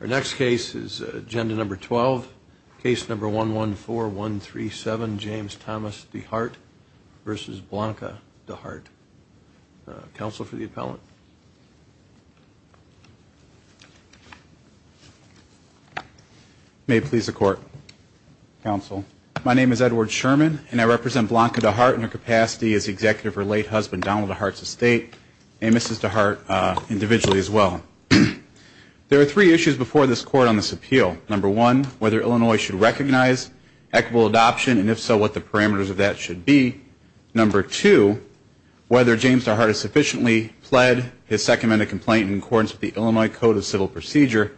Our next case is agenda number 12, case number 114137, James Thomas DeHart v. Blanca DeHart. Counsel for the appellant. May it please the Court, Counsel. My name is Edward Sherman, and I represent Blanca DeHart in her capacity as the executive for her late husband, Donald DeHart's estate, and Mrs. DeHart individually as well. There are three issues before this Court on this appeal. Number one, whether Illinois should recognize equitable adoption, and if so, what the parameters of that should be. Number two, whether James DeHart has sufficiently pled his second amendment complaint in accordance with the Illinois Code of Civil Procedure.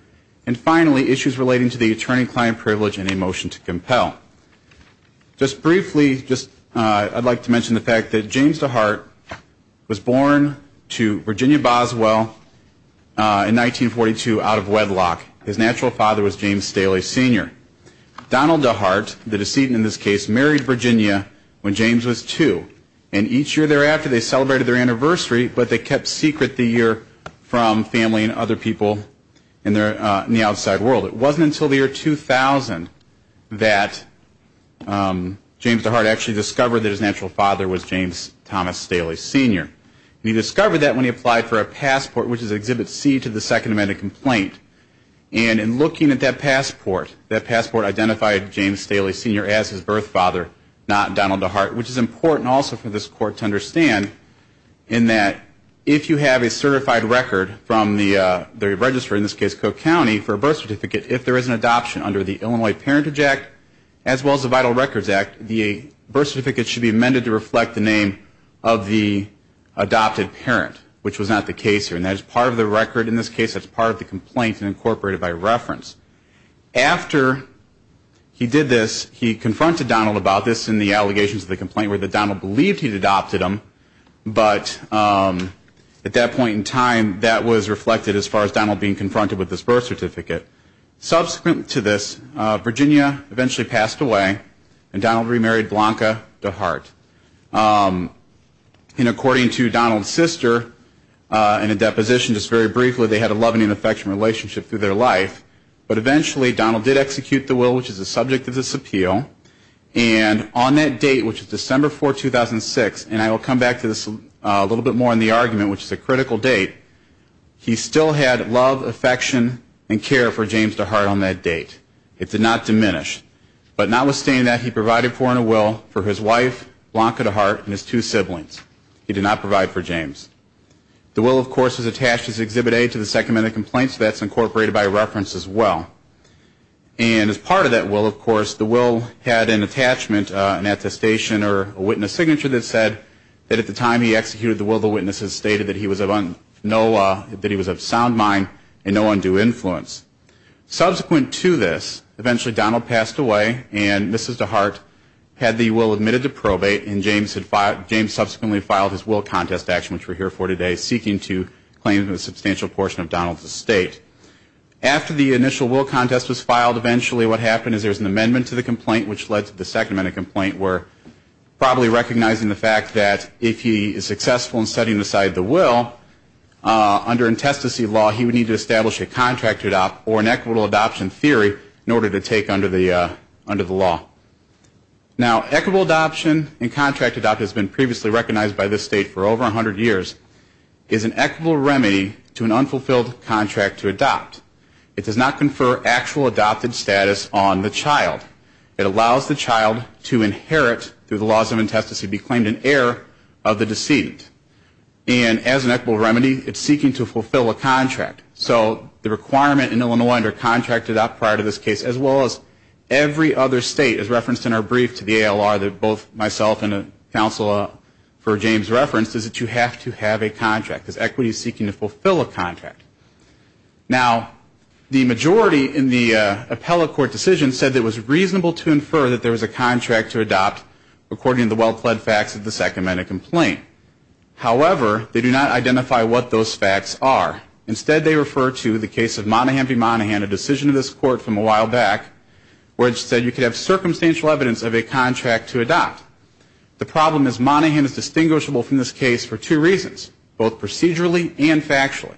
And finally, issues relating to the attorney-client privilege and a motion to compel. Just briefly, I'd like to mention the fact that James DeHart was born to Virginia Boswell, in 1942, out of wedlock. His natural father was James Staley, Sr. Donald DeHart, the decedent in this case, married Virginia when James was two, and each year thereafter they celebrated their anniversary, but they kept secret the year from family and other people in the outside world. It wasn't until the year 2000 that James DeHart actually discovered that his natural father was James Thomas Staley, Sr. He discovered that when he applied for a passport, which is Exhibit C to the second amendment complaint. And in looking at that passport, that passport identified James Staley, Sr. as his birth father, not Donald DeHart, which is important also for this Court to understand in that if you have a certified record from the register, in this case, Cook County, for a birth certificate, if there is an adoption under the Illinois Parentage Act as well as the Vital Records Act, the birth certificate should be amended to reflect the name of the adopted parent, which was not the case here. And that is part of the record. In this case, that's part of the complaint and incorporated by reference. After he did this, he confronted Donald about this in the allegations of the complaint, where Donald believed he'd adopted him, but at that point in time, that was reflected as far as Donald being confronted with this birth certificate. Subsequent to this, Virginia eventually passed away, and Donald remarried Blanca DeHart. And according to Donald's sister, in a deposition just very briefly, they had a love and affection relationship through their life. But eventually, Donald did execute the will, which is the subject of this appeal. And on that date, which is December 4, 2006, and I will come back to this a little bit more in the argument, which is a critical date, he still had love, affection, and care for James DeHart on that date. It did not diminish. But notwithstanding that, he provided for in a will for his wife, Blanca DeHart, and his two siblings. He did not provide for James. The will, of course, is attached as Exhibit A to the second amendment complaint, so that's incorporated by reference as well. And as part of that will, of course, the will had an attachment, an attestation, or a witness signature that said that at the time he executed the will, the witnesses stated that he was of sound mind and no undue influence. Subsequent to this, eventually Donald passed away, and Mrs. DeHart had the will admitted to probate, and James subsequently filed his will contest action, which we're here for today, seeking to claim a substantial portion of Donald's estate. After the initial will contest was filed, eventually what happened is there was an amendment to the complaint, which led to the second amendment complaint, where probably recognizing the fact that if he is successful in setting aside the will, under intestacy law he would need to establish a contract to adopt or an equitable adoption theory in order to take under the law. Now equitable adoption and contract to adopt has been previously recognized by this state for over 100 years, is an equitable remedy to an unfulfilled contract to adopt. It does not confer actual adopted status on the child. In fact, it allows the child to inherit, through the laws of intestacy, be claimed an heir of the decedent. And as an equitable remedy, it's seeking to fulfill a contract. So the requirement in Illinois under contract to adopt prior to this case, as well as every other state, as referenced in our brief to the ALR that both myself and a counsel for James referenced, is that you have to have a contract, because equity is seeking to fulfill a contract. Now the majority in the appellate court decision said it was reasonable to infer that there was a contract to adopt according to the well-pled facts of the second amendment complaint. However, they do not identify what those facts are. Instead they refer to the case of Monaghan v. Monaghan, a decision of this court from a while back, where it said you could have circumstantial evidence of a contract to adopt. The problem is Monaghan is distinguishable from this case for two reasons, both procedurally and factually.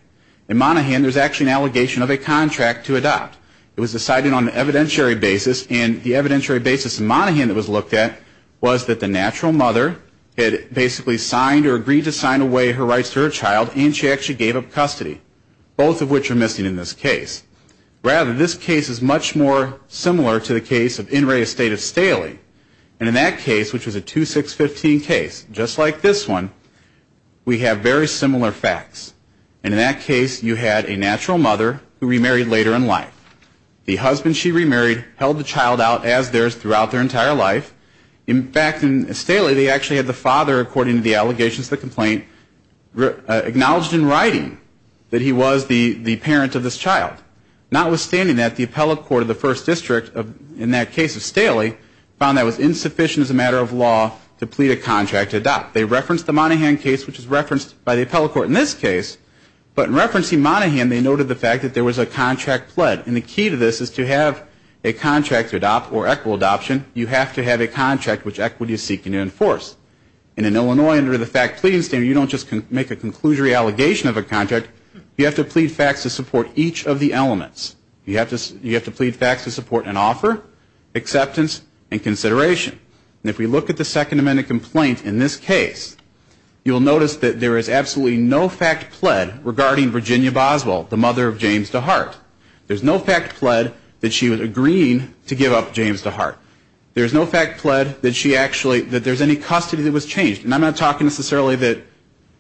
In Monaghan there's actually an allegation of a contract to adopt. It was decided on an evidentiary basis, and the evidentiary basis in Monaghan that was looked at was that the natural mother had basically signed or agreed to sign away her rights to her child, and she actually gave up custody, both of which are missing in this case. Rather, this case is much more similar to the case of In re Estates of Staley. And in that case, which was a 2-6-15 case, just like this one, we have very similar facts. And in that case you had a natural mother who remarried later in life. The husband she remarried held the child out as theirs throughout their entire life. In fact, in Staley they actually had the father, according to the allegations of the complaint, acknowledged in writing that he was the parent of this child. Notwithstanding that, the appellate court of the first district in that case of Staley found that was insufficient as a matter of law to plead a contract to adopt. They referenced the Monaghan case, which is referenced by the appellate court in this case, but in referencing Monaghan they noted the fact that there was a contract pled. And the key to this is to have a contract to adopt or equitable adoption, you have to have a contract which equity is seeking to enforce. And in Illinois under the fact pleading standard you don't just make a conclusory allegation of a contract, you have to plead facts to support each of the elements. You have to plead facts to support an offer, acceptance, and consideration. And if we look at the Second Amendment complaint in this case, you'll notice that there is absolutely no fact pled regarding Virginia Boswell, the mother of James DeHart. There's no fact pled that she was agreeing to give up James DeHart. There's no fact pled that she actually, that there's any custody that was changed. And I'm not talking necessarily that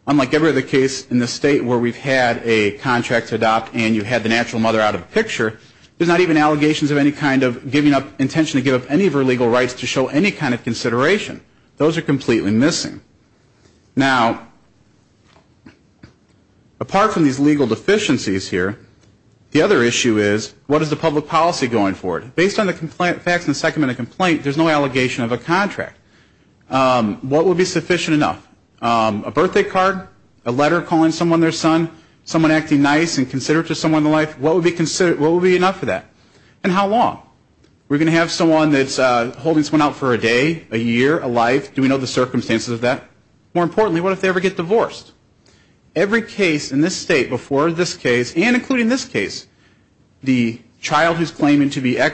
unlike every other case in this state where we've had a contract to adopt and you had the natural mother out of the picture, there's not even allegations of any kind of giving up, intention to give up any of her legal rights to show any kind of consideration. Those are completely missing. Now, apart from these legal deficiencies here, the other issue is what is the public policy going forward? Based on the facts in the Second Amendment complaint, there's no allegation of a contract. What would be sufficient enough? A birthday card? A letter calling someone their son? Someone acting nice and considerate to someone in their life? What would be enough of that? And how long? We're going to have someone that's holding someone out for a day, a year, a life? Do we know the circumstances of that? More importantly, what if they ever get divorced? Every case in this state before this case, and including this case, the child who's claiming to be a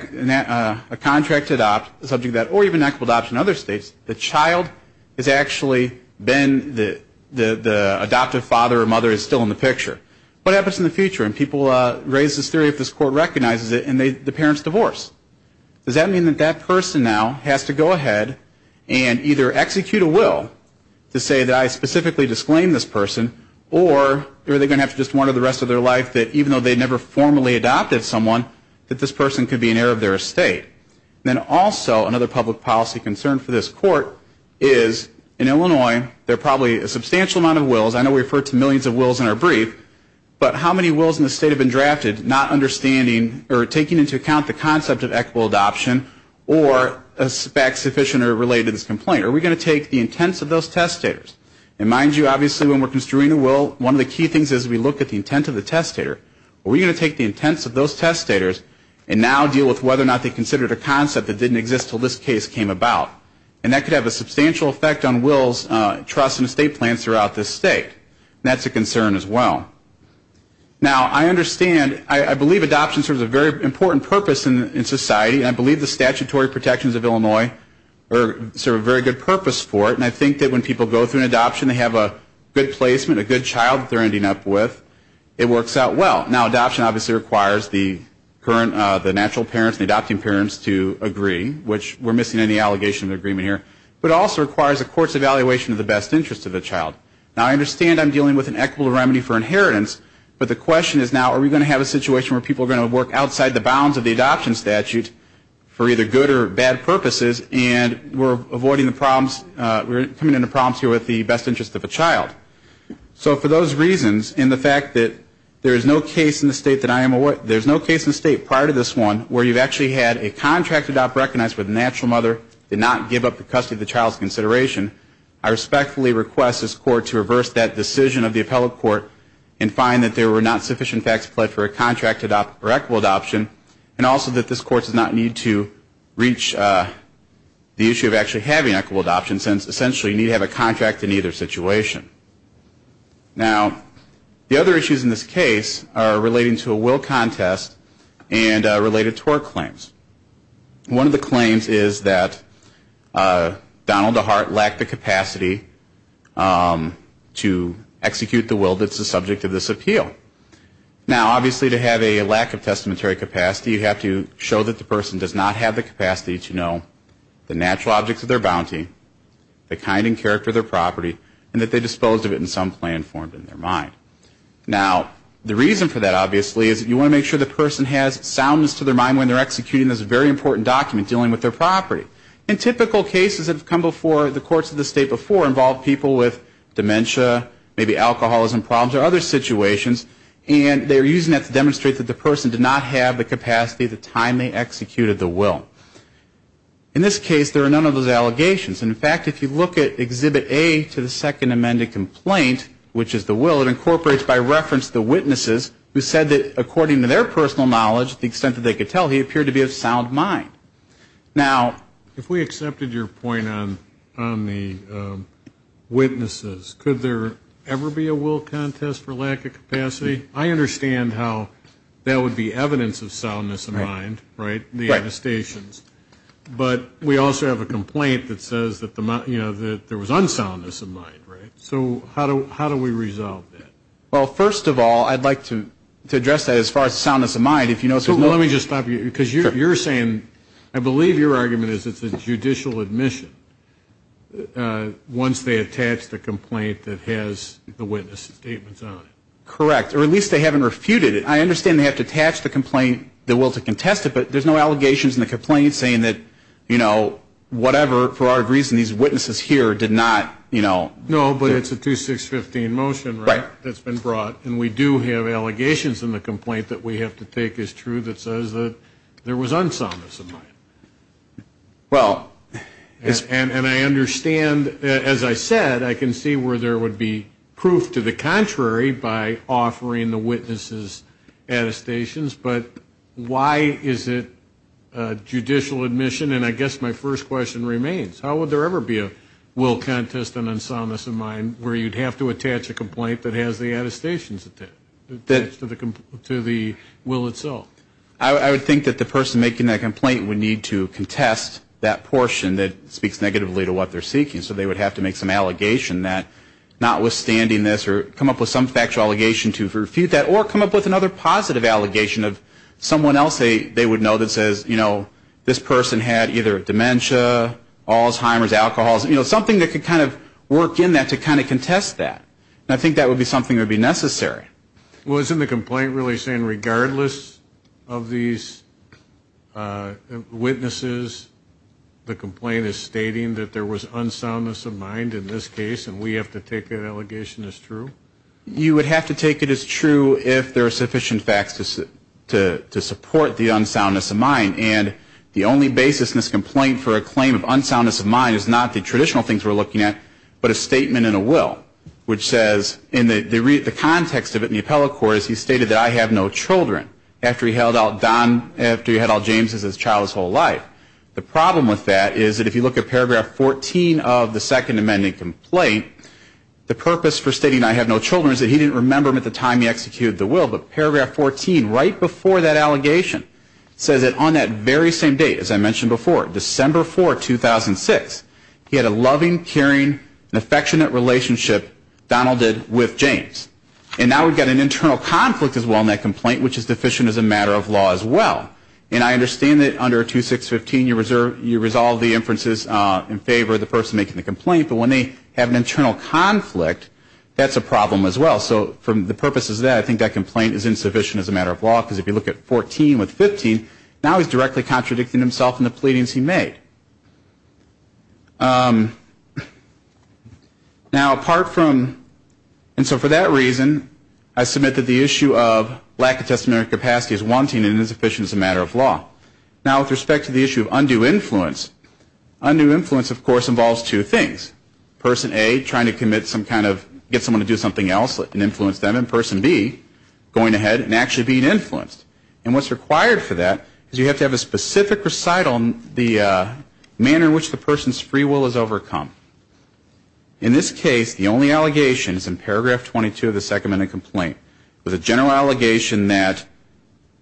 contract to adopt, the subject of that, or even equitable adoption in other states, the child has actually been the adoptive father or mother is still in the picture. What happens in the future? And people raise this theory if this court recognizes it, and the parents divorce. Does that mean that that person now has to go ahead and either execute a will to say that I specifically disclaim this person, or are they going to have to just wonder the rest of their life that even though they never formally adopted someone, that this person could be an heir of their estate? Then also another public policy concern for this court is, in Illinois, there are probably a substantial amount of wills. I know we refer to millions of wills in our brief, but how many wills in the state have been drafted not understanding or taking into account the concept of equitable adoption or back sufficient or related to this complaint? Are we going to take the intents of those testators? And mind you, obviously, when we're construing a will, one of the key things is we look at the intent of the testator. Are we going to take the intents of those testators and now deal with whether or not they considered a concept that didn't exist until this case came about? And that could have a substantial effect on wills, trusts, and estate plans throughout this state. That's a concern as well. Now, I understand, I believe adoption serves a very important purpose in society, and I believe the statutory protections of Illinois serve a very good purpose for it. And I think that when people go through an adoption, they have a good placement, a good child that they're ending up with. It works out well. Now, adoption obviously requires the current, the natural parents, the adopting parents to agree, which we're missing any allegation of agreement here. But it also requires a court's evaluation of the best interest of the child. Now, I understand I'm dealing with an equitable remedy for inheritance, but the question is now are we going to have a situation where people are going to work outside the bounds of the adoption statute for either good or bad purposes, and we're avoiding the problems, we're coming into problems here with the best interest of a child. So for those reasons, and the fact that there is no case in the state that I am aware, there's no case in the state prior to this one where you've actually had a contract adopt recognized where the natural mother did not give up the custody of the child's consideration, I respectfully request this court to reverse that decision of the appellate court and find that there were not sufficient facts applied for a contract or equitable adoption, and also that this court does not need to reach the issue of actually having equitable adoption since essentially you need to have a contract in either situation. Now, the other issues in this case are relating to a will contest and related tort claims. One of the claims is that Donald DeHart lacked the capacity to execute the will that's the subject of this appeal. Now, obviously to have a lack of testamentary capacity, you have to show that the person does not have the capacity to know the natural objects of their bounty, the kind and character of their property, and that they disposed of it in some plan formed in their mind. Now, the reason for that, obviously, is that you want to make sure the person has soundness to their mind when they're executing this very important document dealing with their property. In typical cases that have come before the courts of the state before involve people with dementia, maybe alcoholism problems or other situations, and they're using that to demonstrate that the person did not have the capacity at the time they executed the will. In this case, there are none of those allegations. In fact, if you look at Exhibit A to the second amended complaint, which is the will, it incorporates by reference the witnesses who said that according to their personal knowledge, to the extent that they could tell, he appeared to be of sound mind. Now. If we accepted your point on the witnesses, could there ever be a will contest for lack of capacity? I understand how that would be evidence of soundness of mind, right, the attestations. But we also have a complaint that says that there was unsoundness of mind, right? So how do we resolve that? Well, first of all, I'd like to address that as far as soundness of mind. Let me just stop you. Because you're saying, I believe your argument is it's a judicial admission once they attach the complaint that has the witness statements on it. Correct. Or at least they haven't refuted it. I understand they have to attach the complaint, the will to contest it, but there's no allegations in the complaint saying that, you know, whatever, for whatever reason, these witnesses here did not, you know. No, but it's a 2615 motion, right, that's been brought. And we do have allegations in the complaint that we have to take as true that says that there was unsoundness of mind. Well. And I understand, as I said, I can see where there would be proof to the contrary by offering the witnesses attestations. But why is it judicial admission? And I guess my first question remains. How would there ever be a will contest an unsoundness of mind where you'd have to attach a complaint that has the attestations attached to the will itself? I would think that the person making that complaint would need to contest that portion that speaks negatively to what they're seeking. So they would have to make some allegation that notwithstanding this or come up with some factual allegation to refute that or come up with another positive allegation of someone else they would know that says, you know, this person had either dementia, Alzheimer's, alcoholism, you know, something that could kind of work in that to kind of contest that. And I think that would be something that would be necessary. Well, isn't the complaint really saying regardless of these witnesses, the complaint is stating that there was unsoundness of mind in this case and we have to take that allegation as true? You would have to take it as true if there are sufficient facts to support the unsoundness of mind. And the only basis in this complaint for a claim of unsoundness of mind is not the traditional things we're looking at, but a statement in a will which says in the context of it in the appellate court is he stated that I have no children after he held out Don, after he held out James as his child his whole life. The problem with that is that if you look at paragraph 14 of the Second Amendment complaint, the purpose for stating I have no children is that he didn't remember them at the time he executed the will. But paragraph 14 right before that allegation says that on that very same date, as I mentioned before, December 4, 2006, he had a loving, caring, and affectionate relationship Donald did with James. And now we've got an internal conflict as well in that complaint, which is deficient as a matter of law as well. And I understand that under 2615 you resolve the inferences in favor of the person making the complaint, but when they have an internal conflict, that's a problem as well. So from the purposes of that, I think that complaint is insufficient as a matter of law, because if you look at 14 with 15, now he's directly contradicting himself in the pleadings he made. Now, apart from, and so for that reason, I submit that the issue of lack of testamentary capacity is wanting and insufficient as a matter of law. Now, with respect to the issue of undue influence, undue influence, of course, involves two things. Person A, trying to commit some kind of, get someone to do something else and influence them, and person B, going ahead and actually being influenced. And what's required for that is you have to have a specific recital on the manner in which the person's free will is overcome. In this case, the only allegation is in paragraph 22 of the second minute complaint, with a general allegation that,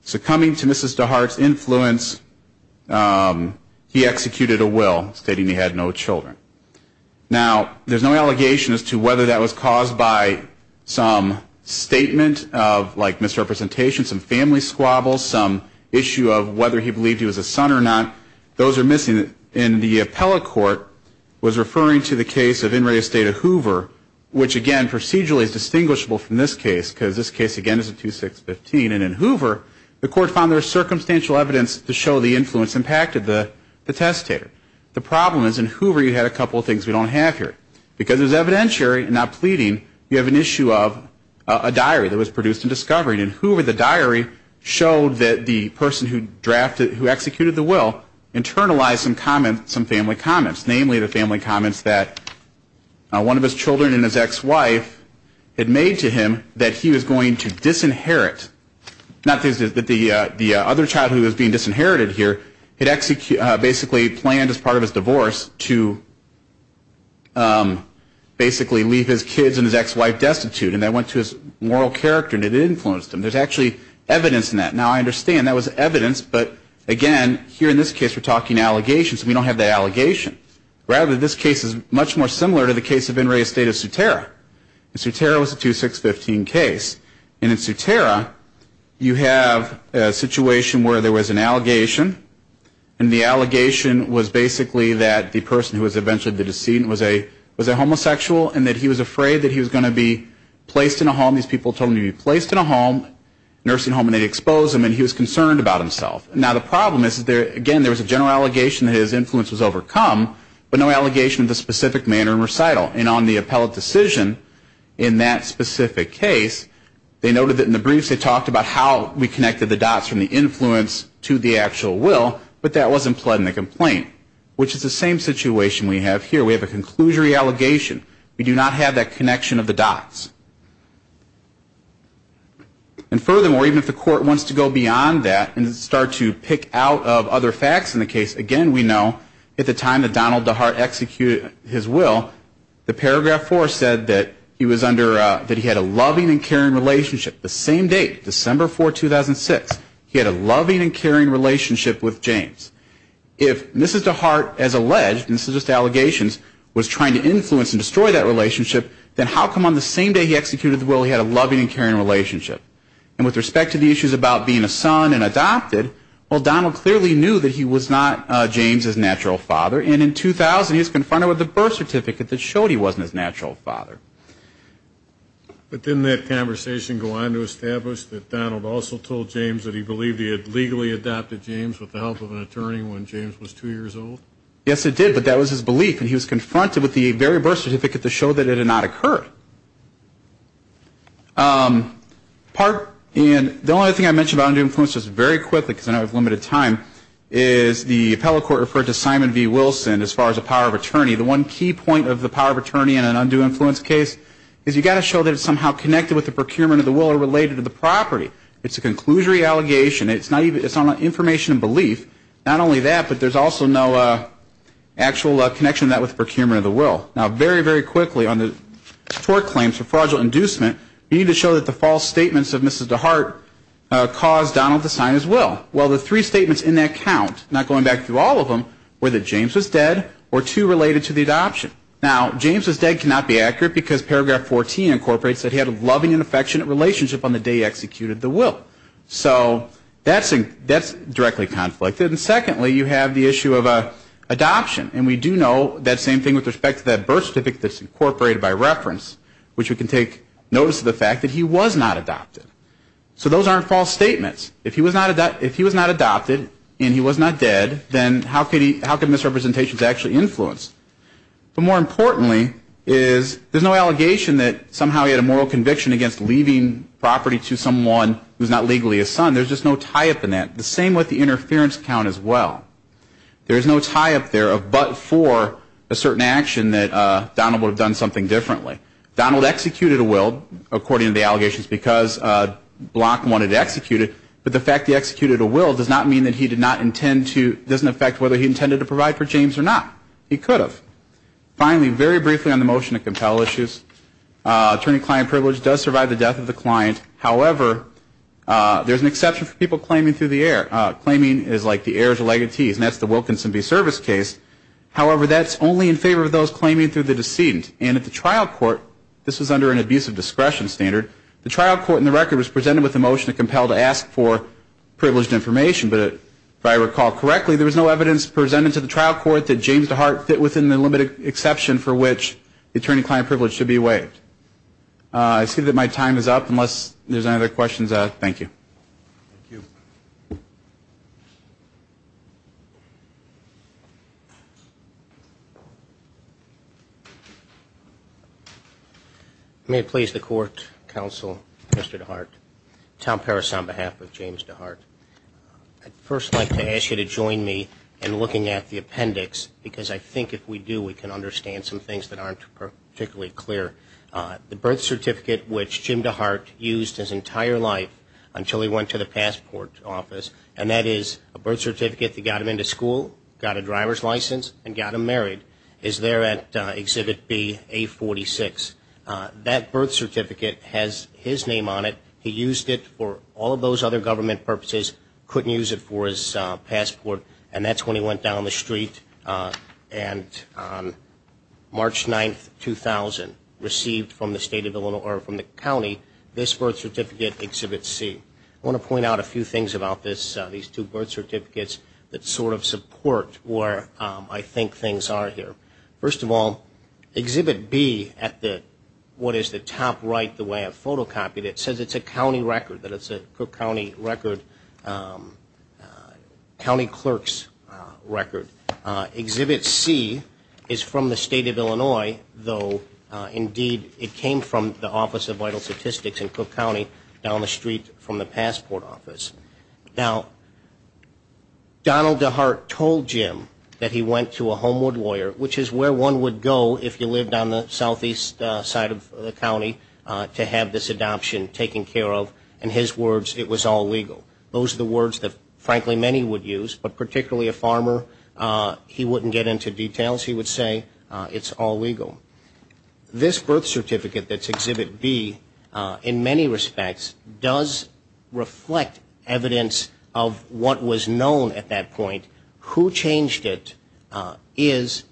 succumbing to Mrs. DeHart's influence, he executed a will stating he had no children. Now, there's no allegation as to whether that was caused by some statement of, like, misrepresentation, some family squabbles, some issue of whether he believed he was a son or not. Those are missing. And the appellate court was referring to the case of In re Estata Hoover, which, again, procedurally is distinguishable from this case, because this case, again, is a 2-6-15. And in Hoover, the court found there was circumstantial evidence to show the influence impacted the testator. The problem is, in Hoover, you had a couple of things we don't have here. Because it was evidentiary and not pleading, you have an issue of a diary that was produced in discovery. In Hoover, the diary showed that the person who drafted, who executed the will, internalized some family comments, namely the family comments that one of his children and his ex-wife had made to him that he was going to disinherit, not that the other child who was being disinherited here had basically planned as part of his divorce to basically leave his kids and his ex-wife destitute. And that went to his moral character, and it influenced him. There's actually evidence in that. Now, I understand that was evidence. But, again, here in this case, we're talking allegations. We don't have the allegation. Rather, this case is much more similar to the case of In re Estata Sutera. In Sutera, it was a 2-6-15 case. And in Sutera, you have a situation where there was an allegation, and the allegation was basically that the person who was eventually the decedent was a homosexual and that he was afraid that he was going to be placed in a home. These people told him to be placed in a home, a nursing home, and they exposed him, and he was concerned about himself. Now, the problem is, again, there was a general allegation that his influence was overcome, but no allegation of the specific manner in recital. And on the appellate decision in that specific case, they noted that in the briefs they talked about how we connected the dots from the influence to the actual will, but that wasn't pled in the complaint, which is the same situation we have here. We have a conclusory allegation. We do not have that connection of the dots. And furthermore, even if the court wants to go beyond that and start to pick out of other facts in the case, again, we know at the time that Donald DeHart executed his will, the paragraph 4 said that he had a loving and caring relationship. The same date, December 4, 2006, he had a loving and caring relationship with James. If Mrs. DeHart, as alleged, and this is just allegations, was trying to influence and destroy that relationship, then how come on the same day he executed the will he had a loving and caring relationship? And with respect to the issues about being a son and adopted, well, Donald clearly knew that he was not James' natural father, and in 2000 he was confronted with a birth certificate that showed he wasn't his natural father. But didn't that conversation go on to establish that Donald also told James that he believed he had legally adopted James with the help of an attorney when James was 2 years old? Yes, it did, but that was his belief, and he was confronted with the very birth certificate to show that it had not occurred. The only other thing I mentioned about undue influence, just very quickly because I know I have limited time, is the appellate court referred to Simon v. Wilson as far as the power of attorney. The one key point of the power of attorney in an undue influence case is you've got to show that it's somehow connected with the procurement of the will or related to the property. It's a conclusory allegation. It's not information of belief, not only that, but there's also no actual connection to that with the procurement of the will. Now, very, very quickly on the tort claims for fraudulent inducement, you need to show that the false statements of Mrs. DeHart caused Donald to sign his will. Well, the three statements in that count, not going back through all of them, were that James was dead or two related to the adoption. Now, James was dead cannot be accurate because Paragraph 14 incorporates that he had a loving and affectionate relationship on the day he executed the will. So that's directly conflicted. And secondly, you have the issue of adoption. And we do know that same thing with respect to that birth certificate that's incorporated by reference, which we can take notice of the fact that he was not adopted. So those aren't false statements. If he was not adopted and he was not dead, then how could misrepresentations actually influence? But more importantly is there's no allegation that somehow he had a moral conviction against leaving property to someone who's not legally his son. There's just no tie-up in that. The same with the interference count as well. There's no tie-up there of but for a certain action that Donald would have done something differently. Donald executed a will, according to the allegations, because Block wanted to execute it. But the fact that he executed a will does not mean that he did not intend to, doesn't affect whether he intended to provide for James or not. He could have. Finally, very briefly on the motion to compel issues, attorney-client privilege does survive the death of the client. However, there's an exception for people claiming through the heir. Claiming is like the heir's legatees, and that's the Wilkinson v. Service case. However, that's only in favor of those claiming through the decedent. And at the trial court, this was under an abusive discretion standard, the trial court in the record was presented with a motion to compel to ask for privileged information. But if I recall correctly, there was no evidence presented to the trial court that James DeHart fit within the limited exception for which the attorney-client privilege should be waived. I see that my time is up, unless there's any other questions. Thank you. Thank you. May it please the court, counsel, Mr. DeHart. Tom Parris on behalf of James DeHart. I'd first like to ask you to join me in looking at the appendix, because I think if we do, we can understand some things that aren't particularly clear. The birth certificate which Jim DeHart used his entire life until he went to the passport office, and that is a birth certificate that got him into school, got a driver's license, and got him married, is there at Exhibit B, A46. That birth certificate has his name on it. He used it for all of those other government purposes, couldn't use it for his passport, and that's when he went down the street. And on March 9, 2000, received from the state of Illinois, or from the county, this birth certificate, Exhibit C. I want to point out a few things about these two birth certificates that sort of support where I think things are here. First of all, Exhibit B at what is the top right, the way I've photocopied it, it says it's a county record, that it's a Cook County record, county clerk's record. Exhibit C is from the state of Illinois, though indeed it came from the Office of Vital Statistics in Cook County, down the street from the passport office. Now, Donald DeHart told Jim that he went to a Homewood lawyer, which is where one would go if you lived on the southeast side of the county, to have this adoption taken care of. In his words, it was all legal. Those are the words that, frankly, many would use, but particularly a farmer, he wouldn't get into details. He would say it's all legal. This birth certificate that's Exhibit B, in many respects, does reflect evidence of what was known at that point. Who changed it is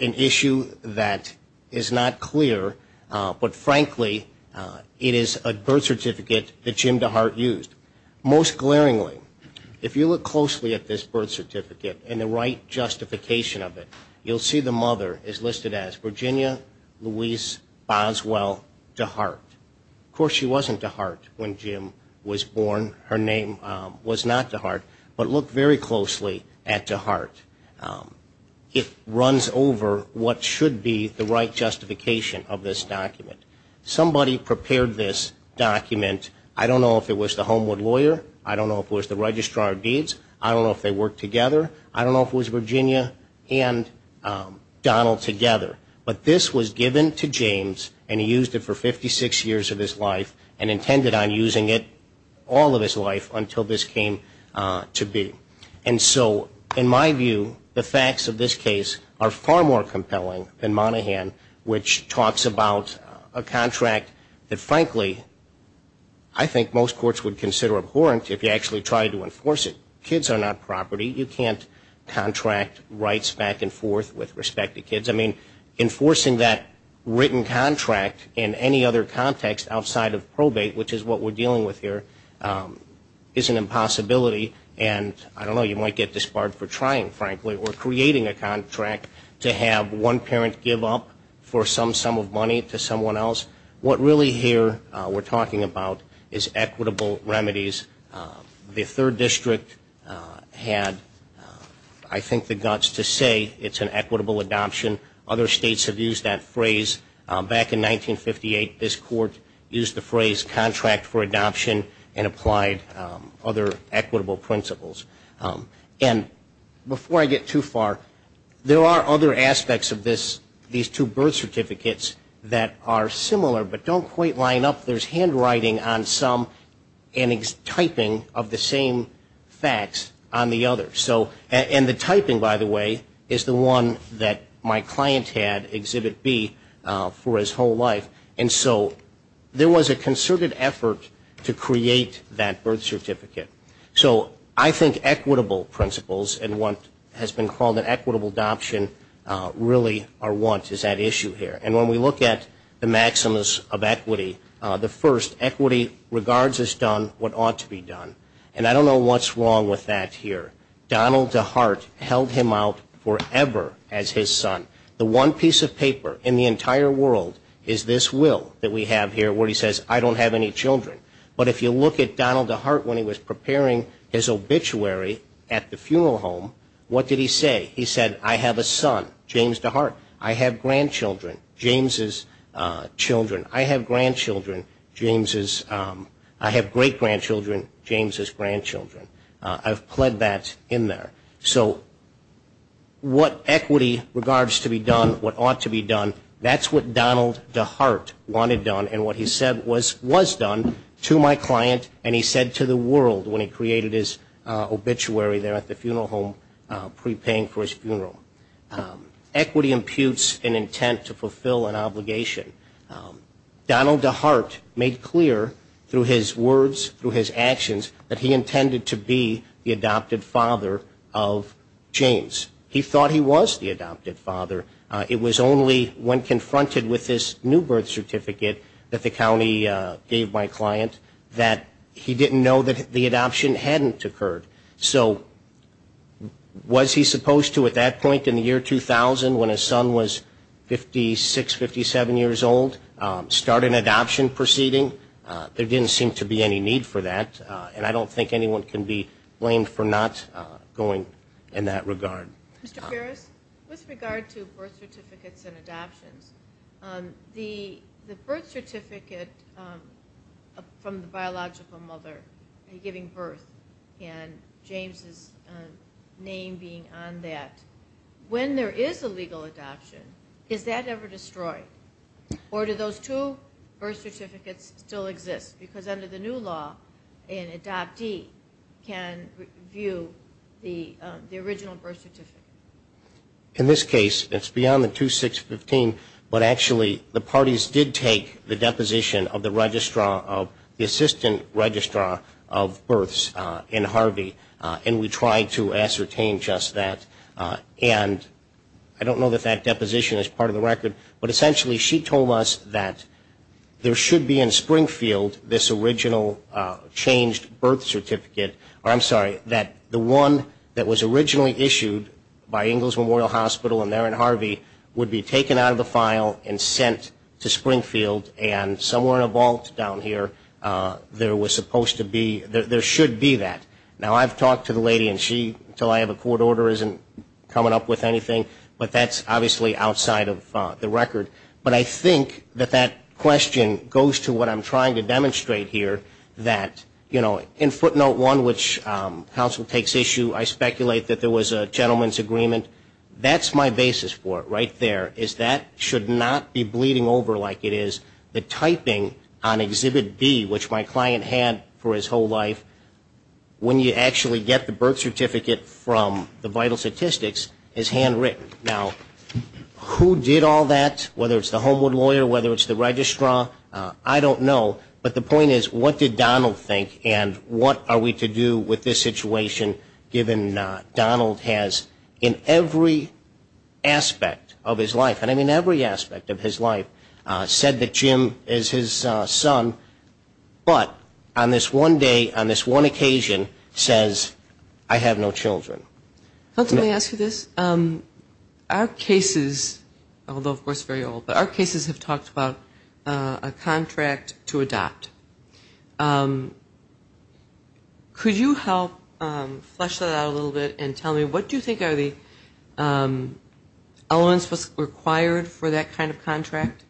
an issue that is not clear, but frankly, it is a birth certificate that Jim DeHart used. Most glaringly, if you look closely at this birth certificate and the right justification of it, you'll see the mother is listed as Virginia Louise Boswell DeHart. Of course, she wasn't DeHart when Jim was born. Her name was not DeHart, but look very closely at DeHart. It runs over what should be the right justification of this document. Somebody prepared this document. I don't know if it was the Homewood lawyer. I don't know if it was the registrar of deeds. I don't know if they worked together. I don't know if it was Virginia and Donald together. But this was given to James, and he used it for 56 years of his life, and intended on using it all of his life until this came to be. And so, in my view, the facts of this case are far more compelling than Monaghan, which talks about a contract that, frankly, I think most courts would consider abhorrent if you actually tried to enforce it. Kids are not property. You can't contract rights back and forth with respect to kids. I mean, enforcing that written contract in any other context outside of probate, which is what we're dealing with here, is an impossibility. And I don't know, you might get disbarred for trying, frankly, or creating a contract to have one parent give up for some sum of money to someone else. What really here we're talking about is equitable remedies. The third district had, I think, the guts to say it's an equitable adoption. Other states have used that phrase. Back in 1958, this court used the phrase contract for adoption and applied other equitable principles. And before I get too far, there are other aspects of these two birth certificates that are similar but don't quite line up. There's handwriting on some and typing of the same facts on the other. And the typing, by the way, is the one that my client had, Exhibit B, for his whole life. And so there was a concerted effort to create that birth certificate. So I think equitable principles and what has been called an equitable adoption really are what is at issue here. And when we look at the maximus of equity, the first, equity regards as done what ought to be done. And I don't know what's wrong with that here. Donald DeHart held him out forever as his son. The one piece of paper in the entire world is this will that we have here where he says, I don't have any children. But if you look at Donald DeHart when he was preparing his obituary at the funeral home, what did he say? He said, I have a son, James DeHart. I have grandchildren, James's children. I have grandchildren, James's. I have great-grandchildren, James's grandchildren. I've pled that in there. So what equity regards to be done, what ought to be done, that's what Donald DeHart wanted done and what he said was done to my client. And he said to the world when he created his obituary there at the funeral home prepaying for his funeral. Equity imputes an intent to fulfill an obligation. Donald DeHart made clear through his words, through his actions, that he intended to be the adopted father of James. He thought he was the adopted father. It was only when confronted with this new birth certificate that the county gave my client that he didn't know that the adoption hadn't occurred. So was he supposed to at that point in the year 2000 when his son was 56, 57 years old start an adoption proceeding? There didn't seem to be any need for that. And I don't think anyone can be blamed for not going in that regard. Mr. Ferris, with regard to birth certificates and adoptions, the birth certificate from the biological mother giving birth and James's name being on that, when there is a legal adoption, is that ever destroyed? Or do those two birth certificates still exist? Because under the new law, an adoptee can view the original birth certificate. In this case, it's beyond the 2615, but actually the parties did take the deposition of the registrar, of the assistant registrar of births in Harvey, and we tried to ascertain just that. And I don't know that that deposition is part of the record, but essentially she told us that there should be in Springfield this original changed birth certificate, or I'm sorry, that the one that was originally issued by Ingalls Memorial Hospital and there in Harvey would be taken out of the file and sent to Springfield and somewhere in a vault down here, there was supposed to be, there should be that. Now, I've talked to the lady and she, until I have a court order, isn't coming up with anything, but that's obviously outside of the record. But I think that that question goes to what I'm trying to demonstrate here, that, you know, in footnote one, which counsel takes issue, I speculate that there was a gentleman's agreement. That's my basis for it right there, is that should not be bleeding over like it is. The typing on Exhibit B, which my client had for his whole life, when you actually get the birth certificate from the vital statistics is handwritten. Now, who did all that, whether it's the Homewood lawyer, whether it's the registrar, I don't know. But the point is, what did Donald think and what are we to do with this situation, given Donald has in every aspect of his life, and I mean every aspect of his life, said that Jim is his son, but on this one day, on this one occasion, says, I have no children. Let me ask you this. Our cases, although, of course, very old, but our cases have talked about a contract to adopt. Could you help flesh that out a little bit and tell me what do you think are the elements required for that kind of contract?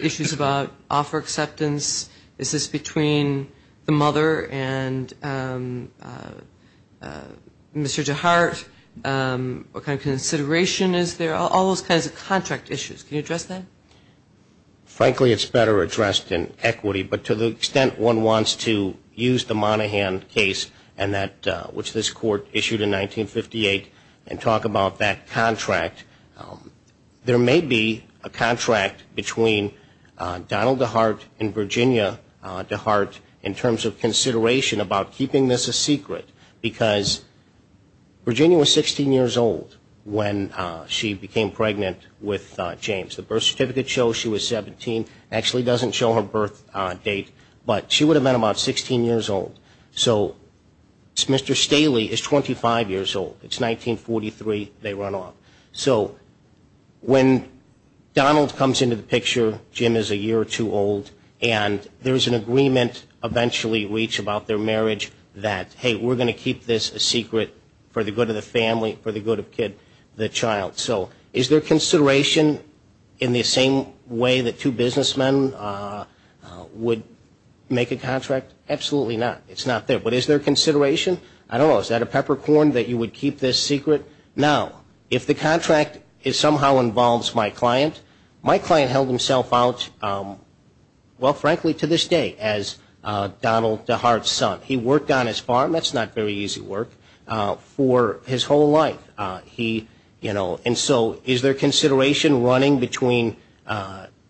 Issues about offer acceptance. Is this between the mother and Mr. Jehart? What kind of consideration is there? All those kinds of contract issues. Can you address that? Frankly, it's better addressed in equity, but to the extent one wants to use the Monaghan case, which this court issued in 1958, and talk about that contract, there may be a contract between Donald Jehart and Virginia Jehart in terms of consideration about keeping this a secret, because Virginia was 16 years old when she became pregnant with James. The birth certificate shows she was 17. It actually doesn't show her birth date, but she would have been about 16 years old. So Mr. Staley is 25 years old. It's 1943. They run off. So when Donald comes into the picture, Jim is a year or two old, and there's an agreement eventually reached about their marriage that, hey, we're going to keep this a secret for the good of the family, for the good of the child. So is there consideration in the same way that two businessmen would make a contract? Absolutely not. It's not there. But is there consideration? I don't know. Is that a peppercorn that you would keep this secret? Now, if the contract somehow involves my client, my client held himself out, well, frankly, to this day as Donald Jehart's son. He worked on his farm. That's not very easy work. For his whole life, he, you know. And so is there consideration running between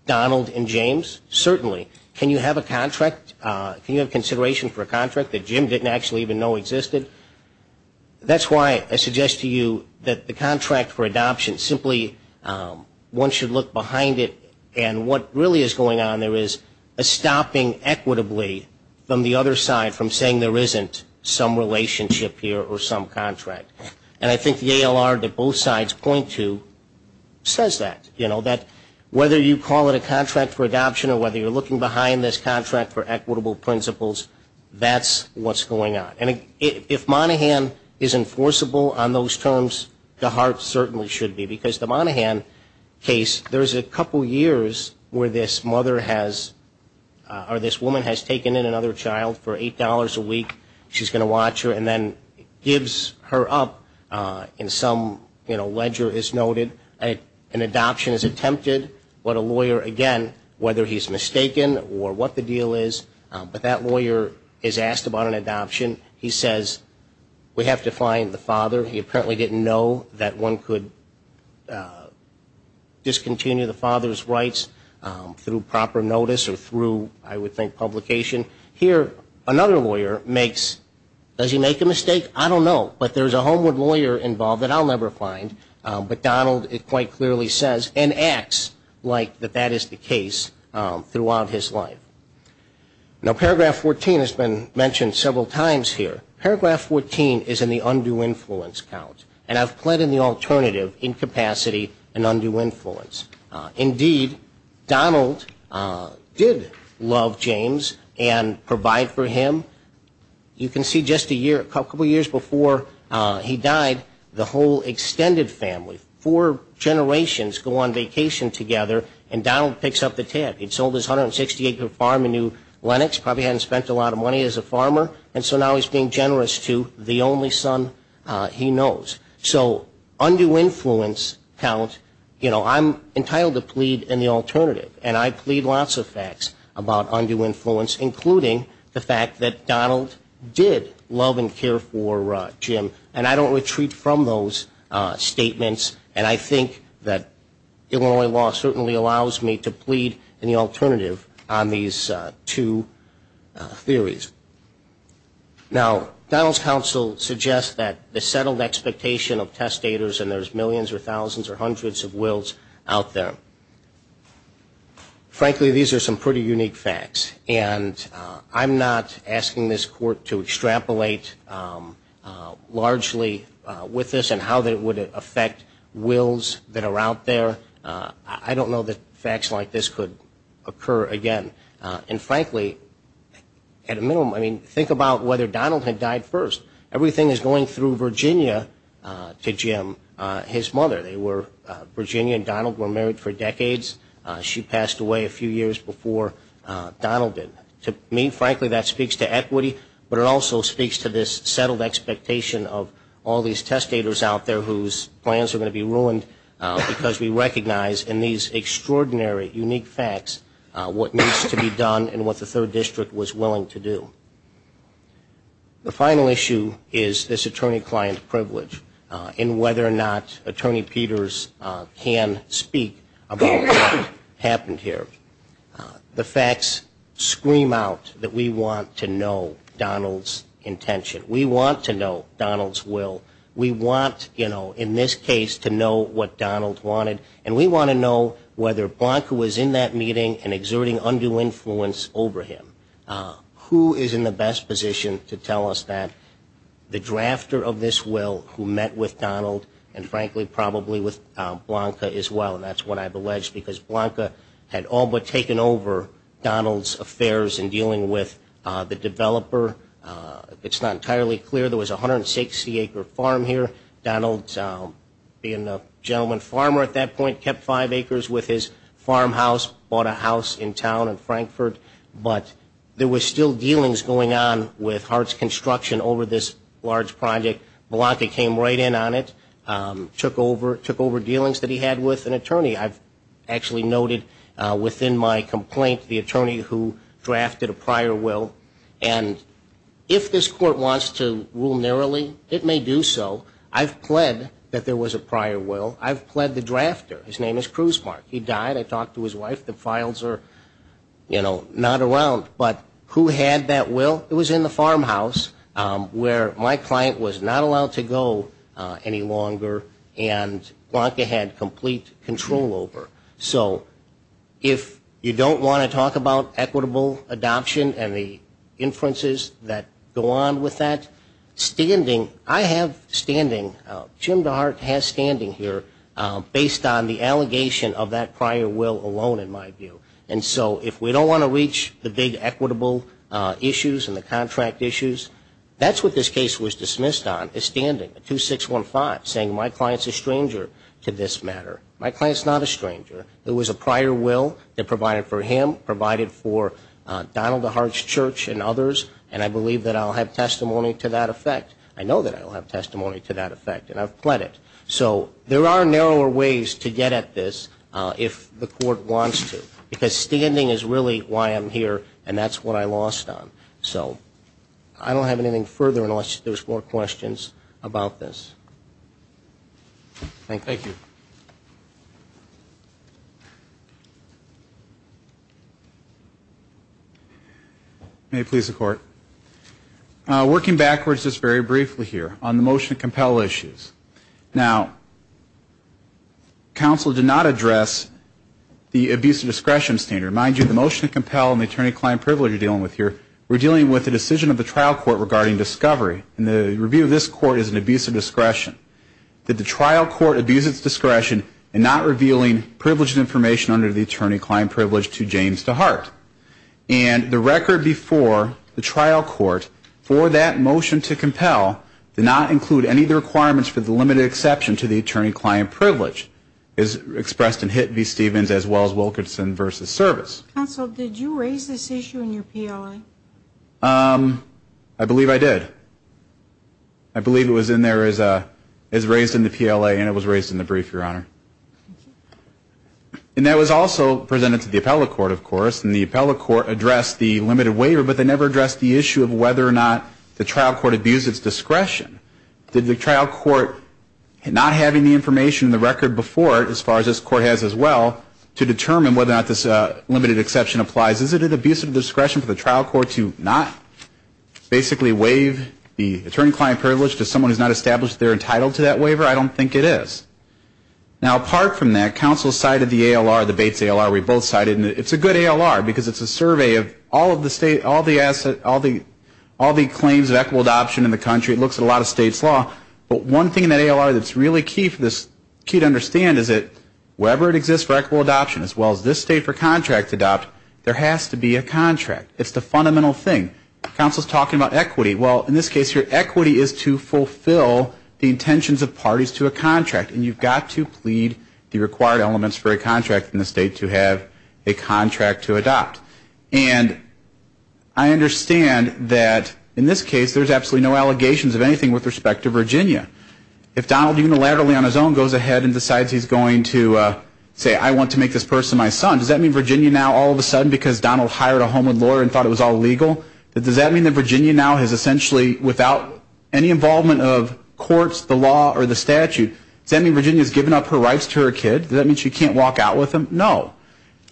Donald and James? Certainly. Can you have a contract? Can you have consideration for a contract that Jim didn't actually even know existed? That's why I suggest to you that the contract for adoption, simply one should look behind it, and what really is going on there is a stopping equitably from the other side, from saying there isn't some relationship here or some contract. And I think the ALR that both sides point to says that, you know, that whether you call it a contract for adoption or whether you're looking behind this contract for equitable principles, that's what's going on. And if Monaghan is enforceable on those terms, Jehart certainly should be, because the Monaghan case, there's a couple years where this mother has, or this woman has taken in another child for $8 a week. She's going to watch her and then gives her up in some, you know, ledger is noted. An adoption is attempted. What a lawyer, again, whether he's mistaken or what the deal is, but that lawyer is asked about an adoption. He says, we have to find the father. He apparently didn't know that one could discontinue the father's rights through proper notice or through, I would think, publication. Here, another lawyer makes, does he make a mistake? I don't know, but there's a Homewood lawyer involved that I'll never find, but Donald quite clearly says and acts like that that is the case throughout his life. Now, paragraph 14 has been mentioned several times here. Paragraph 14 is in the undue influence count, and I've put in the alternative incapacity and undue influence. Indeed, Donald did love James and provide for him. You can see just a couple years before he died, the whole extended family, four generations go on vacation together, and Donald picks up the tab. He'd sold his 160-acre farm in New Lenox, probably hadn't spent a lot of money as a farmer, and so now he's being generous to the only son he knows. So undue influence count, you know, I'm entitled to plead in the alternative, and I plead lots of facts about undue influence, including the fact that Donald did love and care for Jim, and I don't retreat from those statements, and I think that Illinois law certainly allows me to plead in the alternative on these two theories. Now, Donald's counsel suggests that the settled expectation of testators and there's millions or thousands or hundreds of wills out there. Frankly, these are some pretty unique facts, and I'm not asking this court to extrapolate largely with this and how that would affect wills that are out there. I don't know that facts like this could occur again. And frankly, at a minimum, I mean, think about whether Donald had died first. Everything is going through Virginia to Jim, his mother. Virginia and Donald were married for decades. She passed away a few years before Donald did. To me, frankly, that speaks to equity, but it also speaks to this settled expectation of all these testators out there whose plans are going to be ruined because we recognize in these extraordinary, unique facts what needs to be done and what the Third District was willing to do. The final issue is this attorney-client privilege and whether or not Attorney Peters can speak about what happened here. The facts scream out that we want to know Donald's intention. We want to know Donald's will. We want, you know, in this case, to know what Donald wanted, and we want to know whether Blanca was in that meeting and exerting undue influence over him. Who is in the best position to tell us that? The drafter of this will who met with Donald and, frankly, probably with Blanca as well, and that's what I've alleged because Blanca had all but taken over Donald's affairs in dealing with the developer. It's not entirely clear. There was a 160-acre farm here. Donald, being a gentleman farmer at that point, kept five acres with his farmhouse, bought a house in town in Frankfort, but there were still dealings going on with Hart's Construction over this large project. Blanca came right in on it, took over dealings that he had with an attorney, I've actually noted within my complaint the attorney who drafted a prior will, and if this court wants to rule narrowly, it may do so. I've pled that there was a prior will. I've pled the drafter. His name is Krusemark. He died. I talked to his wife. The files are, you know, not around. But who had that will? It was in the farmhouse where my client was not allowed to go any longer, and Blanca had complete control over. So if you don't want to talk about equitable adoption and the inferences that go on with that, standing, I have standing, Jim DeHart has standing here, based on the allegation of that prior will alone in my view. And so if we don't want to reach the big equitable issues and the contract issues, that's what this case was dismissed on is standing, a 2615 saying my client's a stranger to this matter. My client's not a stranger. It was a prior will that provided for him, provided for Donald DeHart's church and others, and I believe that I'll have testimony to that effect. I know that I'll have testimony to that effect, and I've pled it. So there are narrower ways to get at this if the court wants to, because standing is really why I'm here, and that's what I lost on. So I don't have anything further unless there's more questions about this. Thank you. Thank you. May it please the Court. Working backwards just very briefly here on the motion to compel issues. Now, counsel did not address the abuse of discretion standard. Mind you, the motion to compel and the attorney-client privilege you're dealing with here, we're dealing with a decision of the trial court regarding discovery, and the review of this court is an abuse of discretion. Did the trial court abuse its discretion in not revealing privileged information under the attorney-client privilege to James DeHart? And the record before the trial court for that motion to compel did not include any of the requirements for the limited exception to the attorney-client privilege expressed in Hitt v. Stevens as well as Wilkerson v. Service. Counsel, did you raise this issue in your PLA? I believe I did. I believe it was raised in the PLA and it was raised in the brief, Your Honor. And that was also presented to the appellate court, of course, and the appellate court addressed the limited waiver, but they never addressed the issue of whether or not the trial court abused its discretion. Did the trial court, not having the information in the record before it, as far as this court has as well, to determine whether or not this limited exception applies, is it an abuse of discretion for the trial court to not basically waive the attorney-client privilege to someone who's not established they're entitled to that waiver? I don't think it is. Now, apart from that, counsel cited the ALR, the Bates ALR we both cited, and it's a good ALR because it's a survey of all of the claims of equitable adoption in the country. It looks at a lot of states' law. But one thing in that ALR that's really key to understand is that wherever it exists for equitable adoption, as well as this state for contract to adopt, there has to be a contract. It's the fundamental thing. Counsel's talking about equity. Well, in this case, your equity is to fulfill the intentions of parties to a contract, and you've got to plead the required elements for a contract in the state to have a contract to adopt. And I understand that in this case, there's absolutely no allegations of anything with respect to Virginia. If Donald unilaterally on his own goes ahead and decides he's going to say, I want to make this person my son, does that mean Virginia now all of a sudden, because Donald hired a homeland lawyer and thought it was all legal, does that mean that Virginia now has essentially, without any involvement of courts, the law, or the statute, does that mean Virginia's given up her rights to her kid? Does that mean she can't walk out with him? No.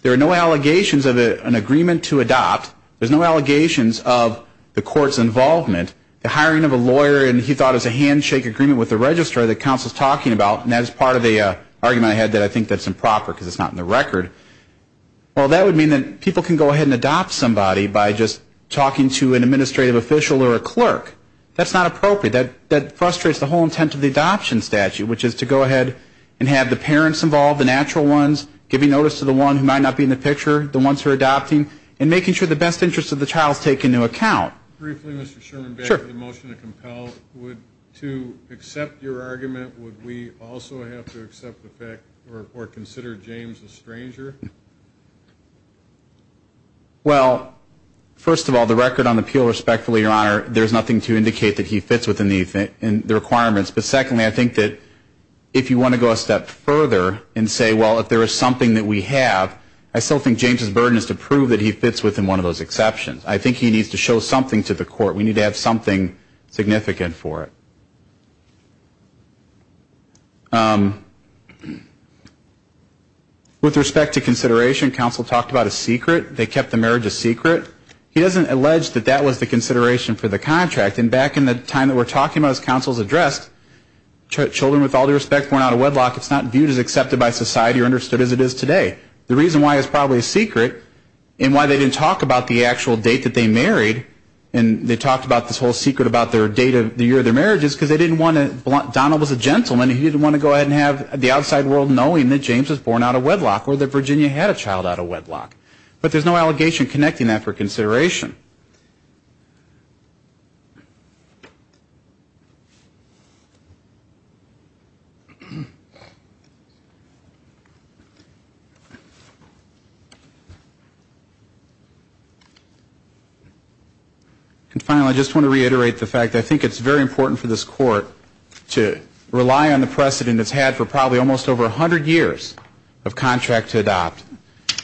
There are no allegations of an agreement to adopt. There's no allegations of the court's involvement. The hiring of a lawyer, and he thought it was a handshake agreement with the registrar that counsel's talking about, and that is part of the argument I had that I think that's improper, because it's not in the record. Well, that would mean that people can go ahead and adopt somebody by just talking to an administrative official or a clerk. That's not appropriate. That frustrates the whole intent of the adoption statute, which is to go ahead and have the parents involved, the natural ones, giving notice to the one who might not be in the picture, the ones who are adopting, and making sure the best interest of the child is taken into account. Briefly, Mr. Sherman, back to the motion to compel, would to accept your argument, would we also have to accept the fact or consider James a stranger? Well, first of all, the record on the appeal, respectfully, Your Honor, there's nothing to indicate that he fits within the requirements. But secondly, I think that if you want to go a step further and say, well, if there is something that we have, I still think James' burden is to prove that he fits within one of those exceptions. I think he needs to show something to the court. We need to have something significant for it. With respect to consideration, counsel talked about a secret. They kept the marriage a secret. He doesn't allege that that was the consideration for the contract. And back in the time that we're talking about as counsel has addressed, children with all due respect born out of wedlock, it's not viewed as accepted by society or understood as it is today. The reason why it's probably a secret, and why they didn't talk about the actual date that they married, and they talked about this whole secret about their date of the year of their marriage, is because they didn't want to, Donald was a gentleman, he didn't want to go ahead and have the outside world knowing that James was born out of wedlock or that Virginia had a child out of wedlock. But there's no allegation connecting that for consideration. And finally, I just want to reiterate the fact that I think it's very important for this court to rely on the precedent it's had for probably almost over 100 years of contract to adopt.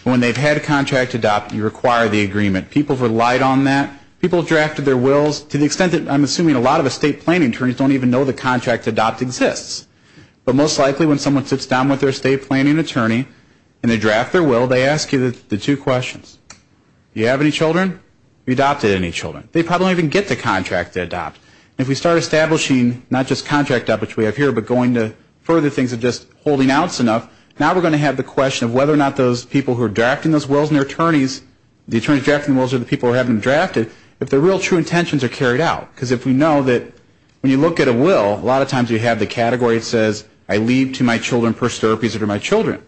When they've had a contract to adopt, you require the agreement. People have relied on that. People have drafted their wills to the extent that I'm assuming a lot of estate planning attorneys don't even know the contract to adopt exists. But most likely when someone sits down with their estate planning attorney and they draft their will, they ask you the two questions. Do you have any children? Have you adopted any children? They probably don't even get the contract to adopt. And if we start establishing not just contract to adopt, which we have here, but going to further things of just holding outs enough, now we're going to have the question of whether or not those people who are drafting those wills and their attorneys, the attorneys drafting the wills are the people who have them drafted, if their real true intentions are carried out. Because if we know that when you look at a will, a lot of times you have the category that says, I leave to my children first therapies that are my children.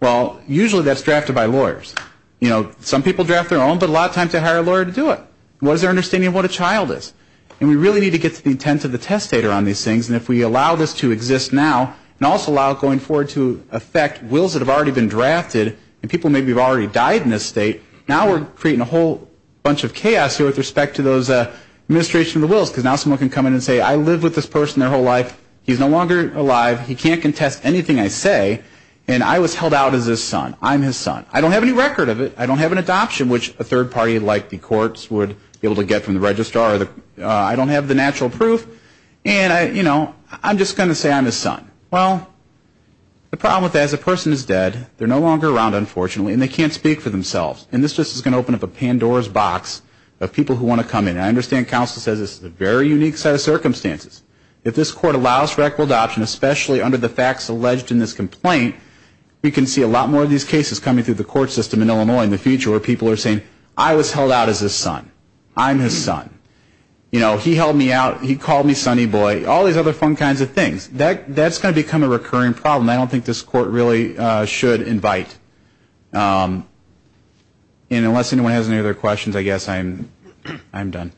Well, usually that's drafted by lawyers. You know, some people draft their own, but a lot of times they hire a lawyer to do it. What is their understanding of what a child is? And we really need to get to the intent of the testator on these things. And if we allow this to exist now and also allow it going forward to affect wills that have already been drafted and people maybe have already died in this state, now we're creating a whole bunch of chaos here with respect to those administration of the wills. Because now someone can come in and say, I lived with this person their whole life. He's no longer alive. He can't contest anything I say. And I was held out as his son. I'm his son. I don't have any record of it. I don't have an adoption, which a third party like the courts would be able to get from the registrar. I don't have the natural proof. And, you know, I'm just going to say I'm his son. Well, the problem with that is the person is dead. They're no longer around, unfortunately, and they can't speak for themselves. And this is just going to open up a Pandora's box of people who want to come in. And I understand counsel says this is a very unique set of circumstances. If this court allows for equitable adoption, especially under the facts alleged in this complaint, we can see a lot more of these cases coming through the court system in Illinois in the future where people are saying, I was held out as his son. I'm his son. You know, he held me out. He called me Sonny Boy. All these other fun kinds of things. That's going to become a recurring problem. I don't think this court really should invite. And unless anyone has any other questions, I guess I'm done.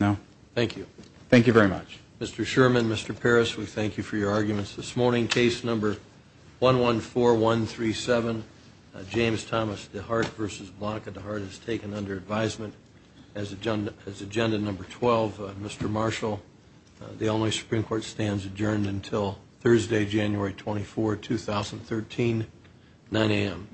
No? Thank you. Thank you very much. Mr. Sherman, Mr. Parris, we thank you for your arguments this morning. Case number 114137, James Thomas DeHart v. Blanca DeHart is taken under advisement as agenda number 12. Mr. Marshall, the Illinois Supreme Court stands adjourned until Thursday, January 24, 2013, 9 a.m.